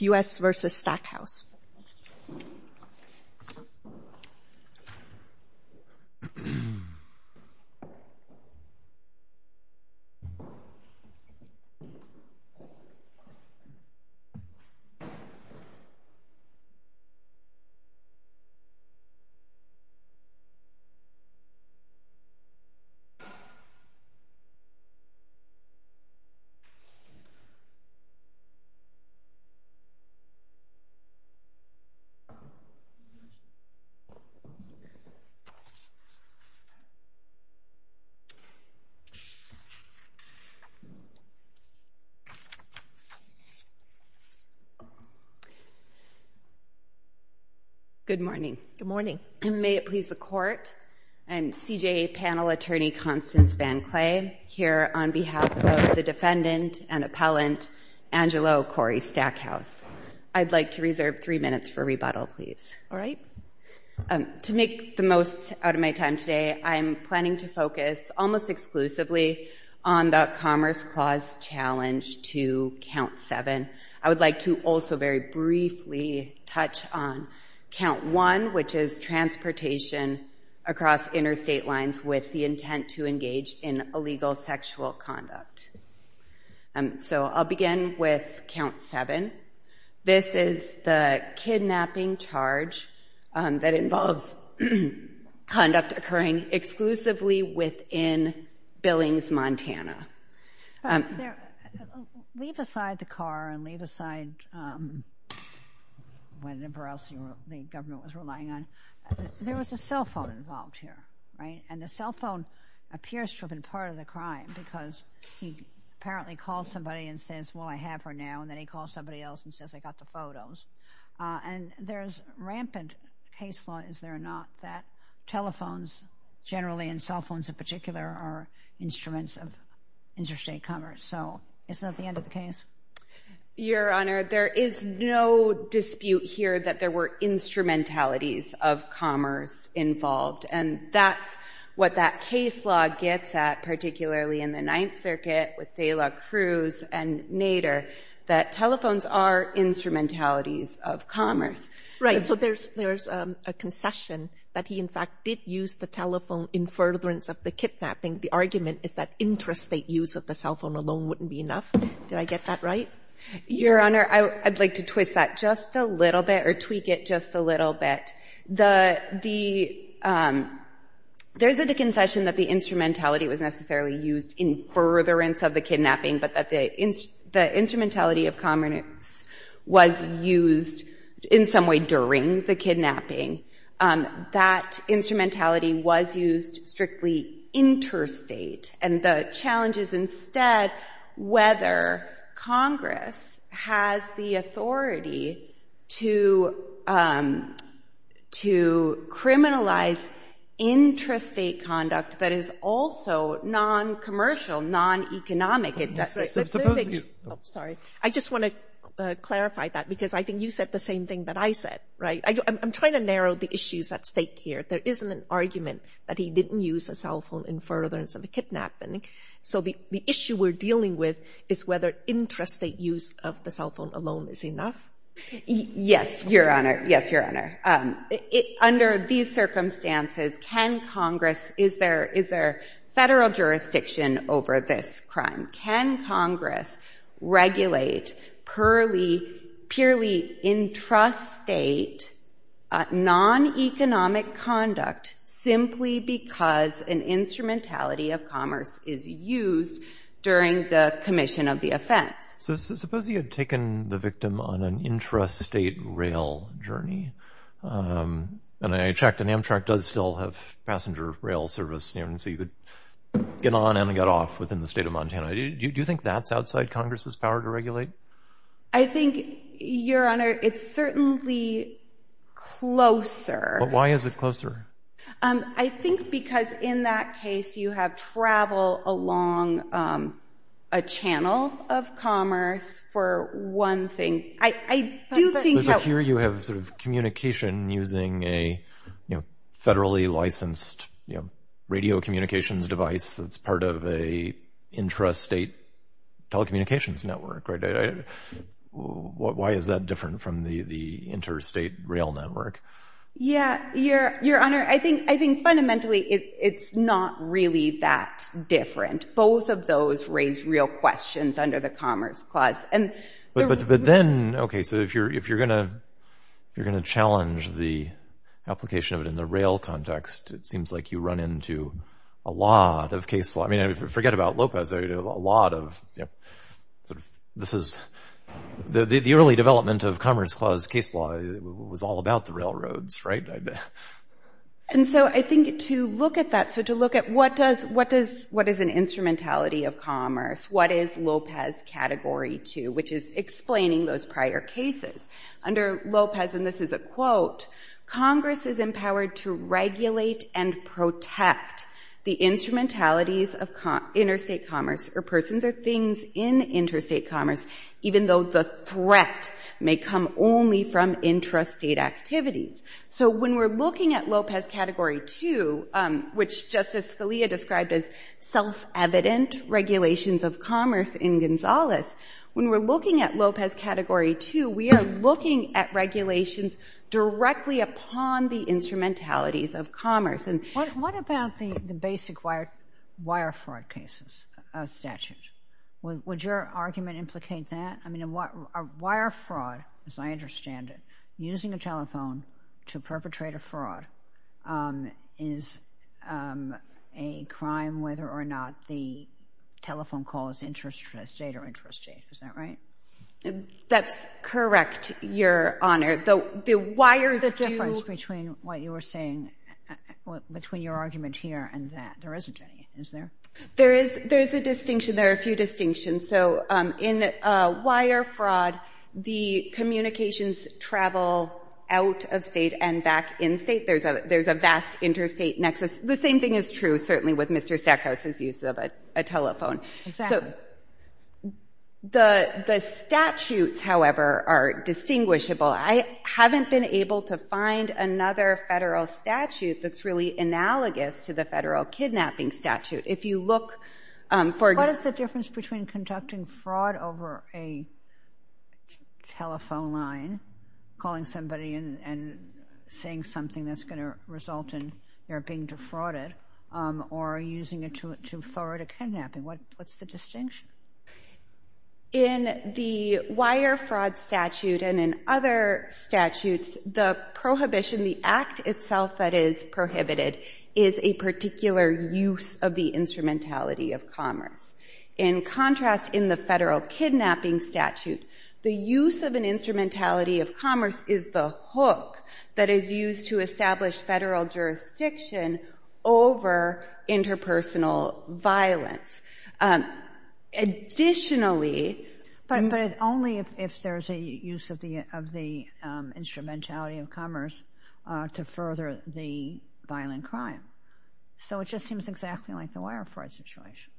U.S. v. Stackhouse Good morning. Good morning. May it please the Court, I'm CJA panel attorney Constance VanCleay here on behalf of the defendant and appellant, Angelo Corey Stackhouse. I'd like to reserve three minutes for rebuttal, please. All right. To make the most out of my time today, I'm planning to focus almost exclusively on the Commerce Clause Challenge to Count 7. I would like to also very briefly touch on Count 1, which is transportation across interstate lines with the intent to engage in illegal sexual conduct. So I'll begin with Count 7. This is the kidnapping charge that involves conduct occurring exclusively within Billings, Montana. Leave aside the car and leave aside whatever else the governor was relying on. There was a cell phone involved here, right? And the cell phone appears to have been part of the crime because he apparently called somebody and says, well, I have her now, and then he calls somebody else and says, I got the photos. And there's rampant case law, is there or not, that telephones generally and cell phones in particular are instruments of interstate commerce. So is that the end of the case? Your Honor, there is no dispute here that there were instrumentalities of commerce involved. And that's what that case law gets at, particularly in the Ninth Circuit with Tela Cruz and Nader, that telephones are instrumentalities of commerce. Right. So there's a concession that he, in fact, did use the telephone in furtherance of the kidnapping. The argument is that interstate use of the cell phone alone wouldn't be enough. Did I get that right? Your Honor, I'd like to twist that just a little bit or tweak it just a little bit. There's a concession that the instrumentality was necessarily used in furtherance of the kidnapping, but that the instrumentality of commerce was used in some way during the kidnapping. That instrumentality was used strictly interstate. And the challenge is instead whether Congress has the authority to criminalize intrastate conduct that is also non-commercial, non-economic. I just want to clarify that because I think you said the same thing that I said. Right. I'm trying to narrow the issues at stake here. There isn't an argument that he didn't use a cell phone in furtherance of a kidnapping. So the issue we're dealing with is whether intrastate use of the cell phone alone is enough. Yes, Your Honor. Yes, Your Honor. Under these circumstances, can Congress, is there federal jurisdiction over this crime? Can Congress regulate purely intrastate, non-economic conduct simply because an instrumentality of commerce is used during the commission of the offense? So suppose he had taken the victim on an intrastate rail journey, and I checked and Amtrak does still have passenger rail service, so you could get on and get off within the state of Montana. Do you think that's outside Congress's power to regulate? I think, Your Honor, it's certainly closer. Why is it closer? I think because in that case, you have travel along a channel of commerce for one thing. I do think that... But here you have sort of communication using a federally licensed radio communications device that's part of a intrastate telecommunications network, right? Why is that different from the interstate rail network? Yeah, Your Honor, I think fundamentally it's not really that different. Both of those raise real questions under the Commerce Clause. But then, okay, so if you're going to challenge the application of it in the rail context, it seems like you run into a lot of case law. I mean, forget about Lopez, there are a lot of... The early development of Commerce Clause case law was all about the railroads, right? And so I think to look at that, so to look at what is an instrumentality of commerce, what is Lopez Category 2, which is explaining those prior cases. Under Lopez, and this is a quote, Congress is empowered to regulate and protect the instrumentalities of interstate commerce or persons or things in interstate commerce, even though the threat may come only from intrastate activities. So when we're looking at Lopez Category 2, which Justice Scalia described as self-evident regulations of commerce in Gonzales, when we're looking at Lopez Category 2, we are looking at regulations directly upon the instrumentalities of commerce. What about the basic wire fraud cases statute? Would your argument implicate that? I mean, wire fraud, as I understand it, using a telephone to perpetrate a fraud is a crime whether or not the telephone call is intrastate or intrastate, is that right? That's correct, Your Honor. The wires do... The difference between what you were saying, between your argument here and that, there isn't any, is there? There is a distinction, there are a few distinctions. So in wire fraud, the communications travel out of state and back in state. There's a vast interstate nexus. The same thing is true, certainly, with Mr. Sackhouse's use of a telephone. So the statutes, however, are distinguishable. I haven't been able to find another federal statute that's really analogous to the federal kidnapping statute. If you look for... What is the difference between conducting fraud over a telephone line, calling somebody and saying something that's going to result in their being defrauded, or using it to thwart a kidnapping? What's the distinction? In the wire fraud statute and in other statutes, the prohibition, the act itself that is prohibited is a particular use of the instrumentality of commerce. In contrast, in the federal kidnapping statute, the use of an instrumentality of commerce is the hook that is used to establish federal jurisdiction over interpersonal violence. Additionally... But only if there's a use of the instrumentality of commerce to further the violent crime. So it just seems exactly like the wire fraud situation.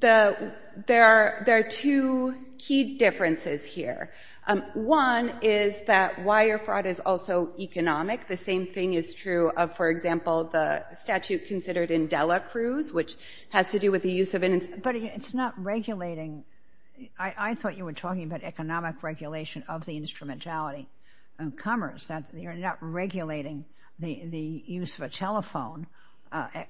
There are two key differences here. One is that wire fraud is also economic. The same thing is true of, for example, the statute considered in Dela Cruz, which has to do with the use of an instrumentality of commerce. But it's not regulating. I thought you were talking about economic regulation of the instrumentality of commerce. You're not regulating the use of a telephone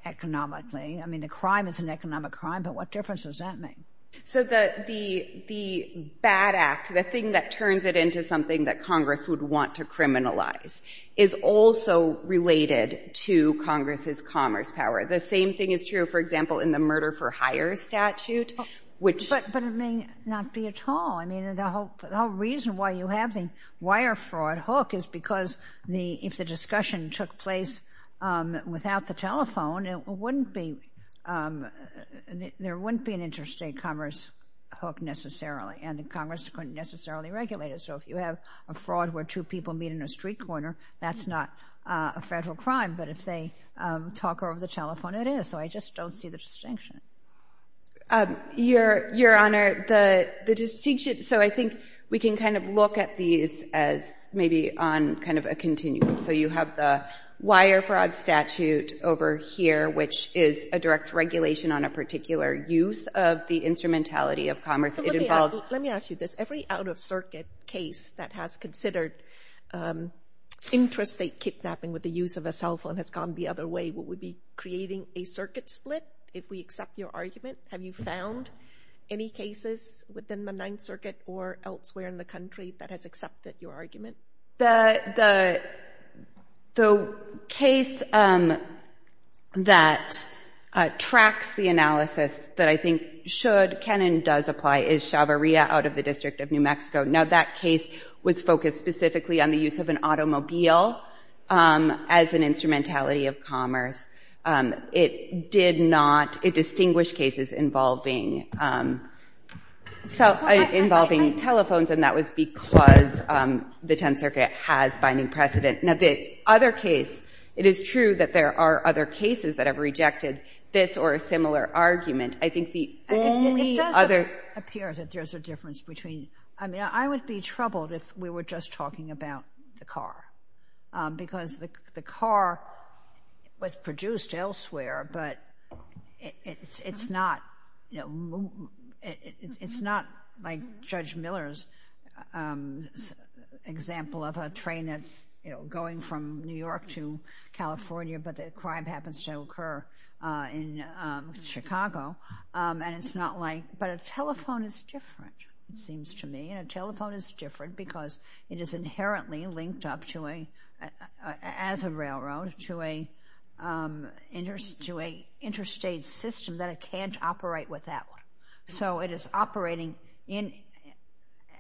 economically. I mean, the crime is an economic crime, but what difference does that make? So the bad act, the thing that turns it into something that Congress would want to criminalize is also related to Congress's commerce power. The same thing is true, for example, in the murder-for-hire statute, which... But it may not be at all. I mean, the whole reason why you have the wire fraud hook is because if the discussion took place without the telephone, there wouldn't be an interstate commerce hook necessarily, and the Congress couldn't necessarily regulate it. So if you have a fraud where two people meet in a street corner, that's not a federal crime. But if they talk over the telephone, it is. So I just don't see the distinction. Your Honor, the distinction... So I think we can kind of look at these as maybe on kind of a continuum. So you have the wire fraud statute over here, which is a direct regulation on a particular use of the instrumentality of commerce. It involves... Let me ask you this. Every out-of-circuit case that has considered interstate kidnapping with the use of a cell phone has gone the other way. Would we be creating a circuit split if we accept your argument? Have you found any cases within the Ninth Circuit or elsewhere in the country that has accepted your argument? The case that tracks the analysis that I think should, can, and does apply is Chavarria out of the District of New Mexico. Now, that case was focused specifically on the use of an automobile as an instrumentality of commerce. It did not... It distinguished cases involving telephones, and that was because the Tenth Circuit has binding precedent. Now, the other case, it is true that there are other cases that have rejected this or a similar argument. I think the only other... It does appear that there's a difference between... I mean, I would be troubled if we were just talking about the car, because the car was produced elsewhere, but it's not like Judge Miller's example of a train that's going from New York to California, but the crime happens to occur in Chicago, and it's not like... But a telephone is different, it seems to me, and a telephone is different because it is inherently linked up as a railroad to an interstate system that it can't operate without. So, it is operating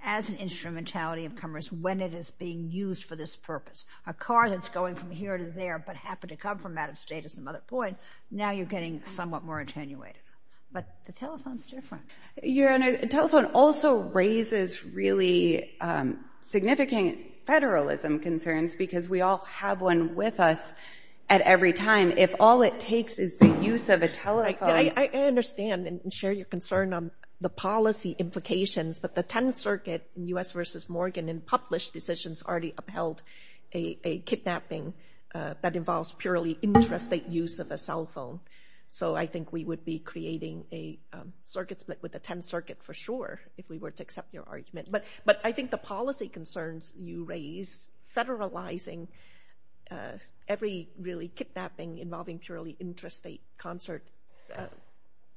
as an instrumentality of commerce when it is being used for this purpose. A car that's going from here to there, but happened to come from out of state at some other point, now you're getting somewhat more attenuated. But the telephone's different. Your Honor, a telephone also raises really significant federalism concerns because we all have one with us at every time. If all it takes is the use of a telephone... I understand and share your concern on the policy implications, but the 10th Circuit in U.S. v. Morgan in published decisions already upheld a kidnapping that involves purely interstate use of a cell phone. So, I think we would be creating a circuit split with the 10th Circuit for sure, if we were to accept your argument. But I think the policy concerns you raise, federalizing every really kidnapping involving purely interstate concert,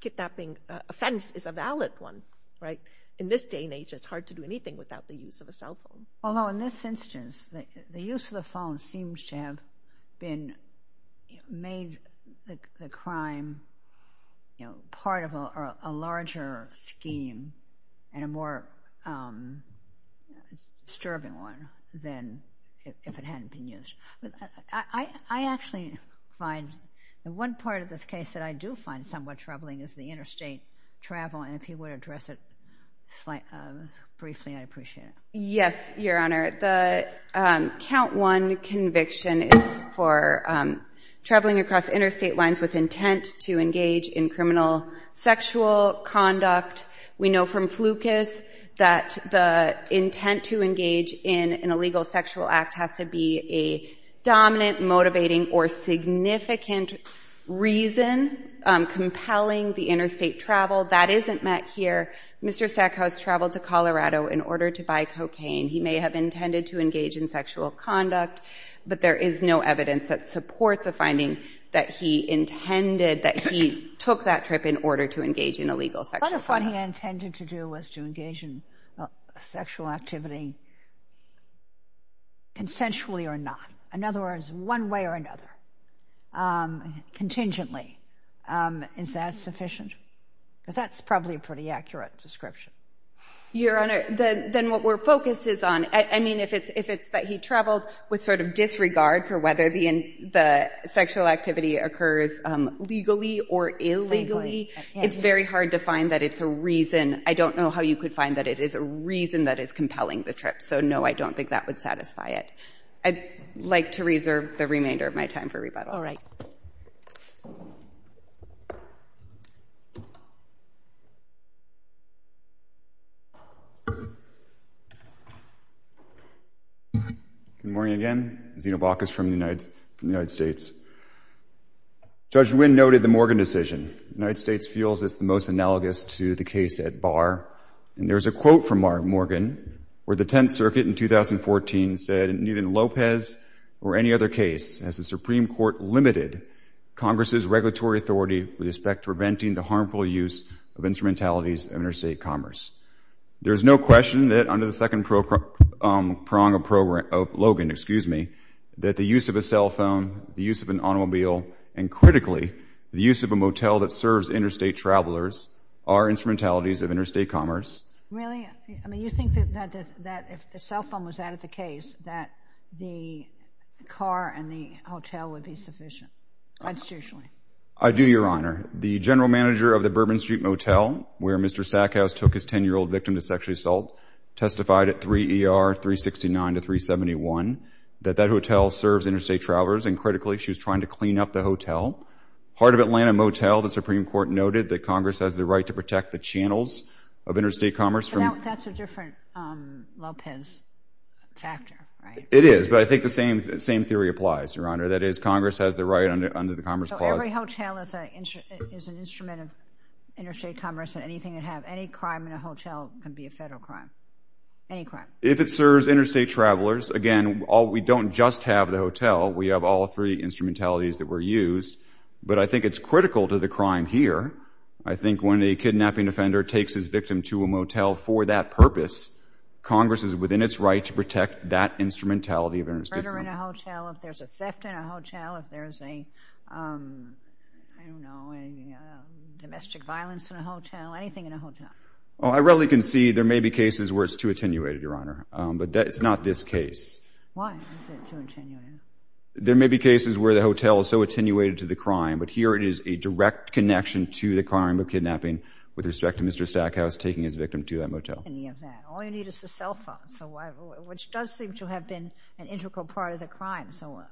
kidnapping offense is a valid one, right? In this day and age, it's hard to do anything without the use of a cell phone. Although in this instance, the use of the phone seems to have been... made the crime part of a larger scheme and a more disturbing one than if it hadn't been used. I actually find... the one part of this case that I do find somewhat troubling is the interstate travel. And if you would address it briefly, I'd appreciate it. Yes, Your Honor. The count one conviction is for traveling across interstate lines with intent to engage in criminal sexual conduct. We know from Flukas that the intent to engage in an illegal sexual act has to be a dominant, motivating, or significant reason compelling the interstate travel. That isn't met here. Mr. Sackhouse traveled to Colorado in order to buy cocaine. He may have intended to engage in sexual conduct, but there is no evidence that supports a finding that he intended, that he took that trip in order to engage in illegal sexual conduct. But if what he intended to do was to engage in sexual activity consensually or not, in other words, one way or another, contingently, is that sufficient? Because that's probably a pretty accurate description. Your Honor, then what we're focused is on... I mean, if it's that he traveled with sort of disregard for whether the sexual activity occurs legally or illegally, it's very hard to find that it's a reason. I don't know how you could find that it is a reason that is compelling the trip. So, no, I don't think that would satisfy it. I'd like to reserve the remainder of my time for rebuttal. All right. Good morning again. Zeno Bacchus from the United States. Judge Nguyen noted the Morgan decision. The United States feels it's the most analogous to the case at Barr. And there's a quote from Morgan where the Tenth Circuit in 2014 said, in neither Lopez or any other case has the Supreme Court limited Congress's regulatory authority with respect to preventing the harmful use of instrumentalities of interstate commerce. There is no question that under the second prong of Logan, that the use of a cell phone, the use of an automobile, and critically, the use of a motel that serves interstate travelers are instrumentalities of interstate commerce. Really? I mean, you think that if the cell phone was added to the case, that the car and the hotel would be sufficient, constitutionally? I do, Your Honor. The general manager of the Bourbon Street Motel, where Mr. Stackhouse took his 10-year-old victim to sexual assault, testified at 3 ER 369 to 371 that that hotel serves interstate travelers. And critically, she was trying to clean up the hotel. Part of Atlanta Motel, the Supreme Court noted that Congress has the right to protect the channels of interstate commerce from- But now that's a different Lopez factor, right? It is, but I think the same theory applies, Your Honor. That is, Congress has the right under the Commerce Clause- So every hotel is an instrument of interstate commerce, and anything that have any crime in a hotel can be a federal crime. Any crime. If it serves interstate travelers, again, we don't just have the hotel. We have all three instrumentalities that were used. But I think it's critical to the crime here. I think when a kidnapping offender takes his victim to a motel for that purpose, Congress is within its right to protect that instrumentality of interstate commerce. Murder in a hotel, if there's a theft in a hotel, if there's a, I don't know, domestic violence in a hotel, anything in a hotel. Well, I readily can see there may be cases where it's too attenuated, Your Honor. But it's not this case. Why is it too attenuated? There may be cases where the hotel is so attenuated to the crime, but here it is a direct connection to the crime of kidnapping, with respect to Mr. Stackhouse taking his victim to that motel. In the event. All you need is a cell phone, which does seem to have been an integral part of the crime. So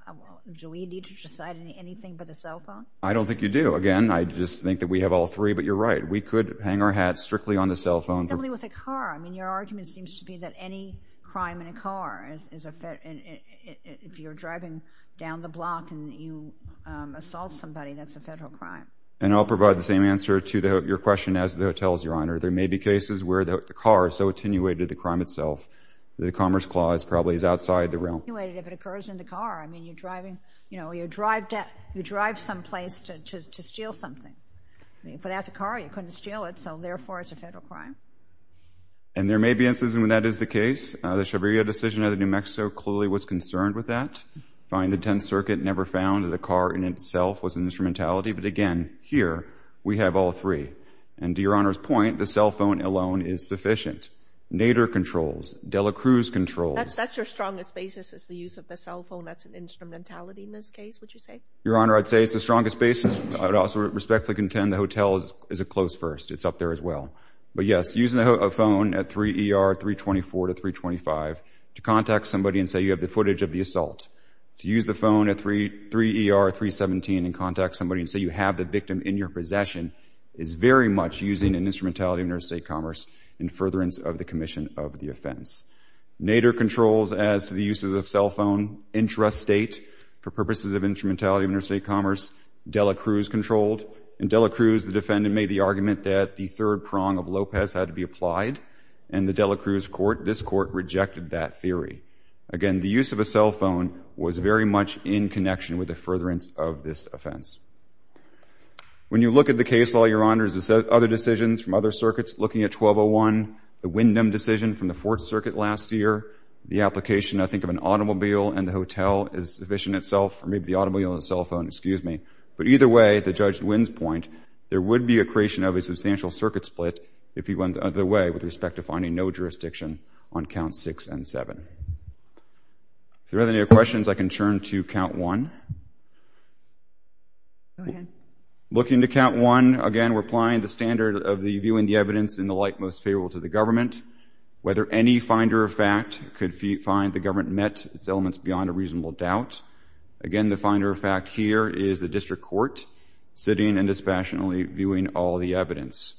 do we need to decide anything by the cell phone? I don't think you do. Again, I just think that we have all three, but you're right. We could hang our hats strictly on the cell phone. Somebody with a car. I mean, your argument seems to be that any crime in a car is a, if you're driving down the block and you assault somebody, that's a federal crime. And I'll provide the same answer to your question as the hotel's, Your Honor. There may be cases where the car is so attenuated to the crime itself, the Commerce Clause probably is outside the realm. If it occurs in the car, I mean, you're driving, you know, you drive some place to steal something. But as a car, you couldn't steal it. So therefore, it's a federal crime. And there may be instances when that is the case. The Chaviria decision out of New Mexico clearly was concerned with that. Find the 10th Circuit never found that a car in itself was an instrumentality. But again, here, we have all three. And to Your Honor's point, the cell phone alone is sufficient. Nader controls. De La Cruz controls. That's your strongest basis is the use of the cell phone. That's an instrumentality in this case, would you say? Your Honor, I'd say it's the strongest basis. I would also respectfully contend the hotel is a close first. It's up there as well. But yes, using a phone at 3 ER 324 to 325 to contact somebody and say you have the footage of the assault. To use the phone at 3 ER 317 and contact somebody and say you have the victim in your possession is very much using an instrumentality of interstate commerce in furtherance of the commission of the offense. Nader controls as to the uses of cell phone intrastate for purposes of instrumentality of interstate commerce. De La Cruz controlled. In De La Cruz, the defendant made the argument that the third prong of Lopez had to be applied, and the De La Cruz court, this court, rejected that theory. Again, the use of a cell phone was very much in connection with the furtherance of this offense. When you look at the case law, Your Honor, there's other decisions from other circuits looking at 1201. The Wyndham decision from the Fourth Circuit last year. The application, I think, of an automobile and the hotel is sufficient itself, or the automobile and the cell phone, excuse me. But either way, the judge wins point. There would be a creation of a substantial circuit split if he went the other way with respect to finding no jurisdiction on count six and seven. If there are any other questions, I can turn to count one. Go ahead. Looking to count one, again, we're applying the standard of the viewing the evidence in the light most favorable to the government. Whether any finder of fact could find the government met its elements beyond a reasonable doubt. Again, the finder of fact here is the district court, sitting and dispassionately viewing all the evidence.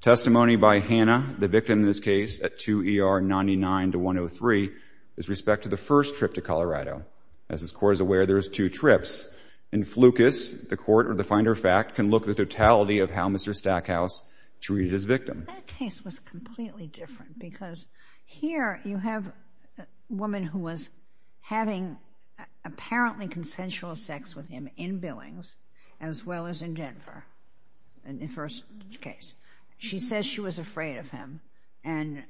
Testimony by Hannah, the victim in this case at 2 ER 99 to 103, is respect to the first trip to Colorado. As this court is aware, there's two trips. In Flucas, the court, or the finder of fact, can look at the totality of how Mr. Stackhouse treated his victim. That case was completely different because here you have a woman who was having apparently consensual sex with him in Billings as well as in Denver, in the first case. She says she was afraid of him. And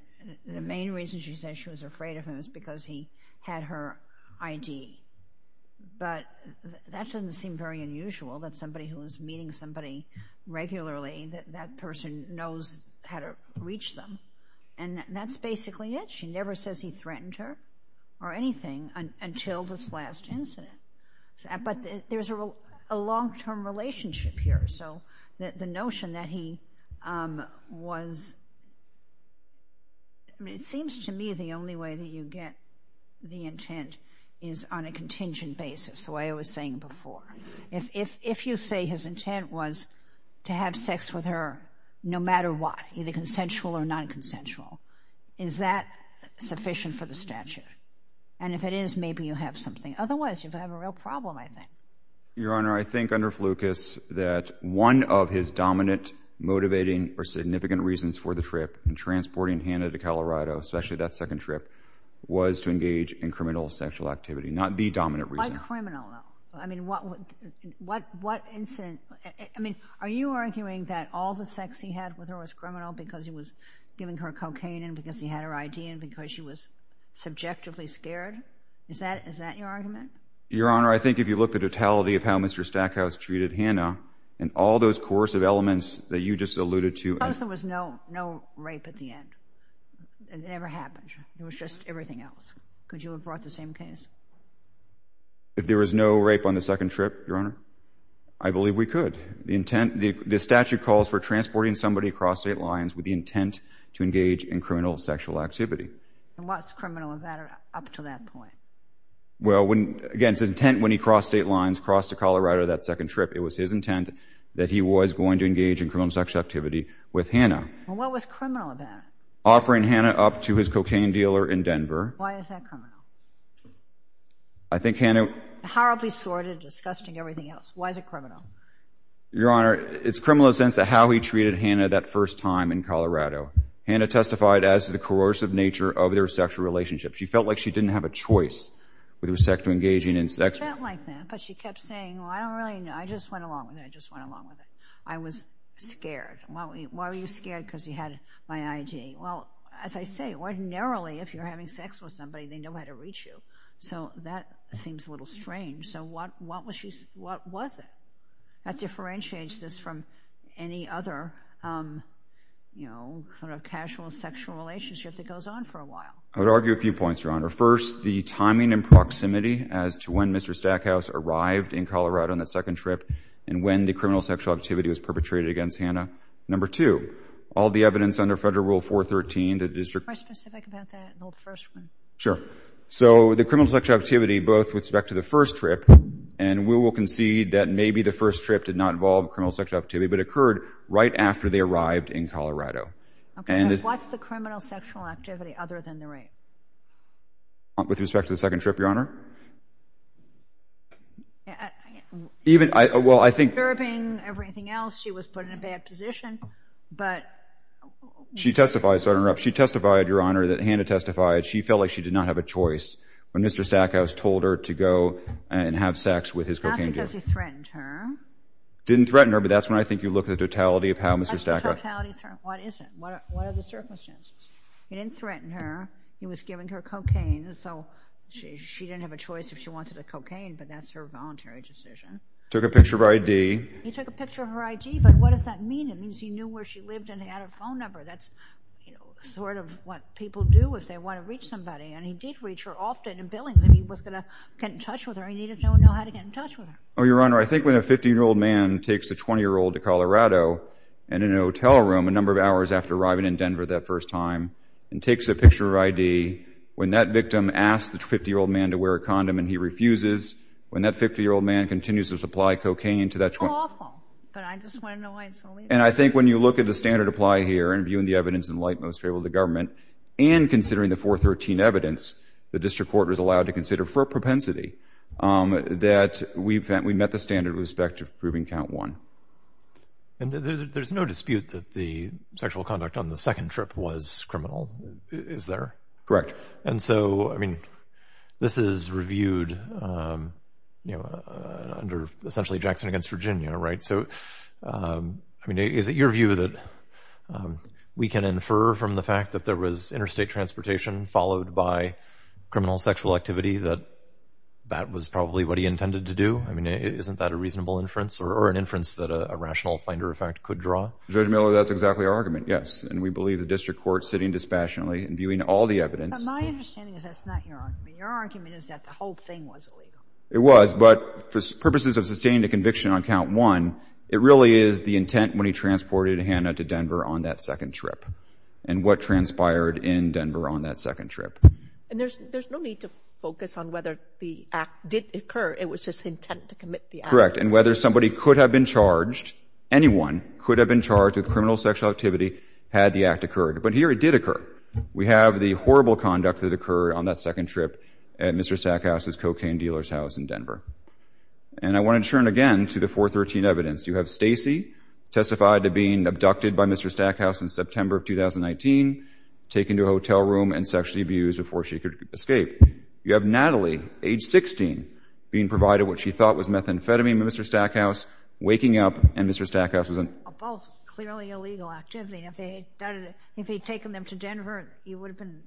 the main reason she says she was afraid of him is because he had her ID. But that doesn't seem very unusual, that somebody who was meeting somebody regularly, that that person knows how to reach them. And that's basically it. She never says he threatened her or anything until this last incident. But there's a long-term relationship here. So the notion that he was, it seems to me the only way that you get the intent is on a contingent basis, the way I was saying before. If you say his intent was to have sex with her no matter what, either consensual or non-consensual, is that sufficient for the statute? And if it is, maybe you have something. Otherwise, you have a real problem, I think. Your Honor, I think under Flukas that one of his dominant motivating or significant reasons for the trip and transporting Hannah to Colorado, especially that second trip, was to engage in criminal sexual activity. Not the dominant reason. Why criminal, though? I mean, what incident, I mean, are you arguing that all the sex he had with her was criminal because he was giving her cocaine and because he had her ID and because she was subjectively scared? Is that your argument? Your Honor, I think if you look at the totality of how Mr. Stackhouse treated Hannah, and all those coercive elements that you just alluded to- Suppose there was no rape at the end. It never happened. It was just everything else. Could you have brought the same case? If there was no rape on the second trip, Your Honor, I believe we could. The intent, the statute calls for transporting somebody across state lines with the intent to engage in criminal sexual activity. And what's criminal about it up to that point? Well, again, it's his intent when he crossed state lines, crossed to Colorado that second trip, it was his intent that he was going to engage in criminal sexual activity with Hannah. Well, what was criminal about it? Offering Hannah up to his cocaine dealer in Denver. Why is that criminal? I think Hannah- Horribly sordid, disgusting, everything else. Why is it criminal? Your Honor, it's criminal in the sense of how he treated Hannah that first time in Colorado. Hannah testified as to the coercive nature of their sexual relationship. She felt like she didn't have a choice with respect to engaging in sex- She felt like that, but she kept saying, well, I don't really know. I just went along with it. I just went along with it. I was scared. Why were you scared? Because you had my ID. Well, as I say, ordinarily, if you're having sex with somebody, they know how to reach you. So that seems a little strange. So what was it that differentiates this from any other casual sexual relationship that goes on for a while? I would argue a few points, Your Honor. First, the timing and proximity as to when Mr. Stackhouse arrived in Colorado on the second trip and when the criminal sexual activity was perpetrated against Hannah. Number two, all the evidence under Federal Rule 413 that the district- Can you be more specific about that in the first one? Sure. So the criminal sexual activity, both with respect to the first trip, and we will concede that maybe the first trip did not involve criminal sexual activity, but it occurred right after they arrived in Colorado. Okay, so what's the criminal sexual activity other than the rape? With respect to the second trip, Your Honor? Even, well, I think- Disturbing, everything else. She was put in a bad position, but- She testified, sorry to interrupt. She testified, Your Honor, that Hannah testified. She felt like she did not have a choice when Mr. Stackhouse told her to go and have sex with his cocaine dealer. Not because he threatened her. Didn't threaten her, but that's when I think you look at the totality of how Mr. Stackhouse- What is the totality? What is it? What are the circumstances? He didn't threaten her. He was giving her cocaine, so she didn't have a choice if she wanted a cocaine, but that's her voluntary decision. Took a picture of her ID. He took a picture of her ID, but what does that mean? It means he knew where she lived and had a phone number. That's, you know, sort of what people do if they want to reach somebody, and he did reach her often in Billings, and he was going to get in touch with her. He needed to know how to get in touch with her. Oh, Your Honor, I think when a 15-year-old man takes a 20-year-old to Colorado and in a hotel room a number of hours after arriving in Denver that first time and takes a picture of her ID, when that victim asks the 50-year-old man to wear a condom and he refuses, when that 50-year-old man continues to supply cocaine to that 20- Awful, but I just want to know why it's so- And I think when you look at the standard apply here and viewing the evidence in light most favorable of the government and considering the 413 evidence the district court was allowed to consider for propensity that we met the standard with respect to proving count one. And there's no dispute that the sexual conduct on the second trip was criminal, is there? Correct. And so, I mean, this is reviewed, you know, under essentially Jackson against Virginia, right? So, I mean, is it your view that we can infer from the fact that there was interstate transportation followed by criminal sexual activity that that was probably what he intended to do? I mean, isn't that a reasonable inference or an inference that a rational finder of fact could draw? Judge Miller, that's exactly our argument, yes. And we believe the district court sitting dispassionately and viewing all the evidence- But my understanding is that's not your argument. Your argument is that the whole thing was illegal. It was, but for purposes of sustaining a conviction on count one, it really is the intent when he transported Hannah to Denver on that second trip and what transpired in Denver on that second trip. And there's no need to focus on whether the act did occur. It was just intent to commit the act. Correct. And whether somebody could have been charged, anyone could have been charged with criminal sexual activity had the act occurred. But here it did occur. We have the horrible conduct that occurred on that second trip at Mr. Stackhouse's cocaine dealer's house in Denver. And I want to turn again to the 413 evidence. You have Stacy testified to being abducted by Mr. Stackhouse in September of 2019, taken to a hotel room and sexually abused before she could escape. You have Natalie, age 16, being provided what she thought was methamphetamine by Mr. Stackhouse, waking up, and Mr. Stackhouse was in- Both clearly illegal activity. If they'd taken them to Denver, you would have been,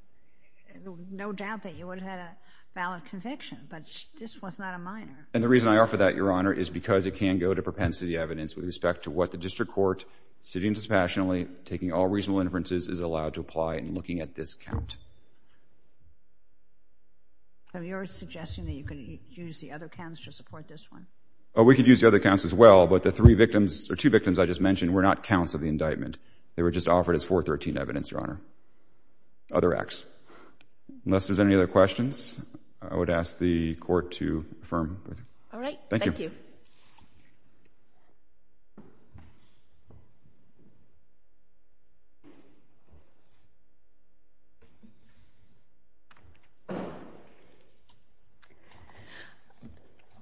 no doubt that you would have had a valid conviction. But this was not a minor. And the reason I offer that, Your Honor, is because it can go to propensity evidence with respect to what the district court, sitting dispassionately, taking all reasonable inferences, is allowed to apply in looking at this count. So you're suggesting that you could use the other counts to support this one? Oh, we could use the other counts as well. But the three victims, or two victims I just mentioned, were not counts of the indictment. They were just offered as 413 evidence, Your Honor. Other acts. Unless there's any other questions, I would ask the court to affirm. All right. Thank you.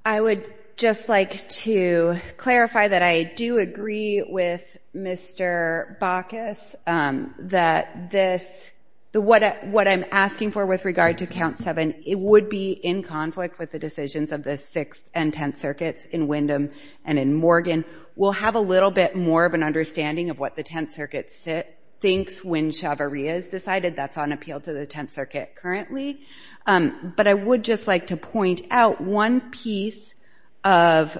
I would just like to clarify that I do agree with Mr. Bacchus that this, what I'm asking for with regard to count seven, it would be in conflict with the decisions of the Sixth and Tenth Circuits in Windham and in Morgan. We'll have a little bit more of an understanding of what the Tenth Circuit thinks when Chavarria is decided. That's on appeal to the Tenth Circuit currently. But I would just like to point out one piece of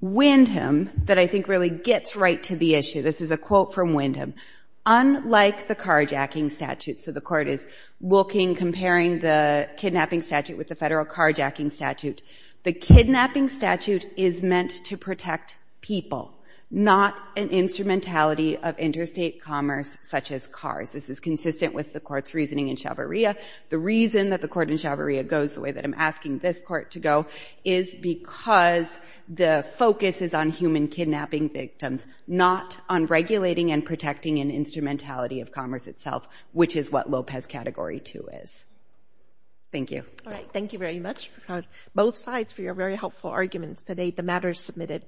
Windham that I think really gets right to the issue. This is a quote from Windham. Unlike the carjacking statute, so the Court is looking, comparing the kidnapping statute with the Federal carjacking statute, the kidnapping statute is meant to protect people, not an instrumentality of interstate commerce such as cars. This is consistent with the Court's reasoning in Chavarria. The reason that the Court in Chavarria goes the way that I'm asking this Court to go is because the focus is on human kidnapping victims, not on regulating and protecting an instrumentality of commerce itself, which is what Lopez Category 2 is. Thank you. All right, thank you very much for both sides for your very helpful arguments today. The matter is submitted.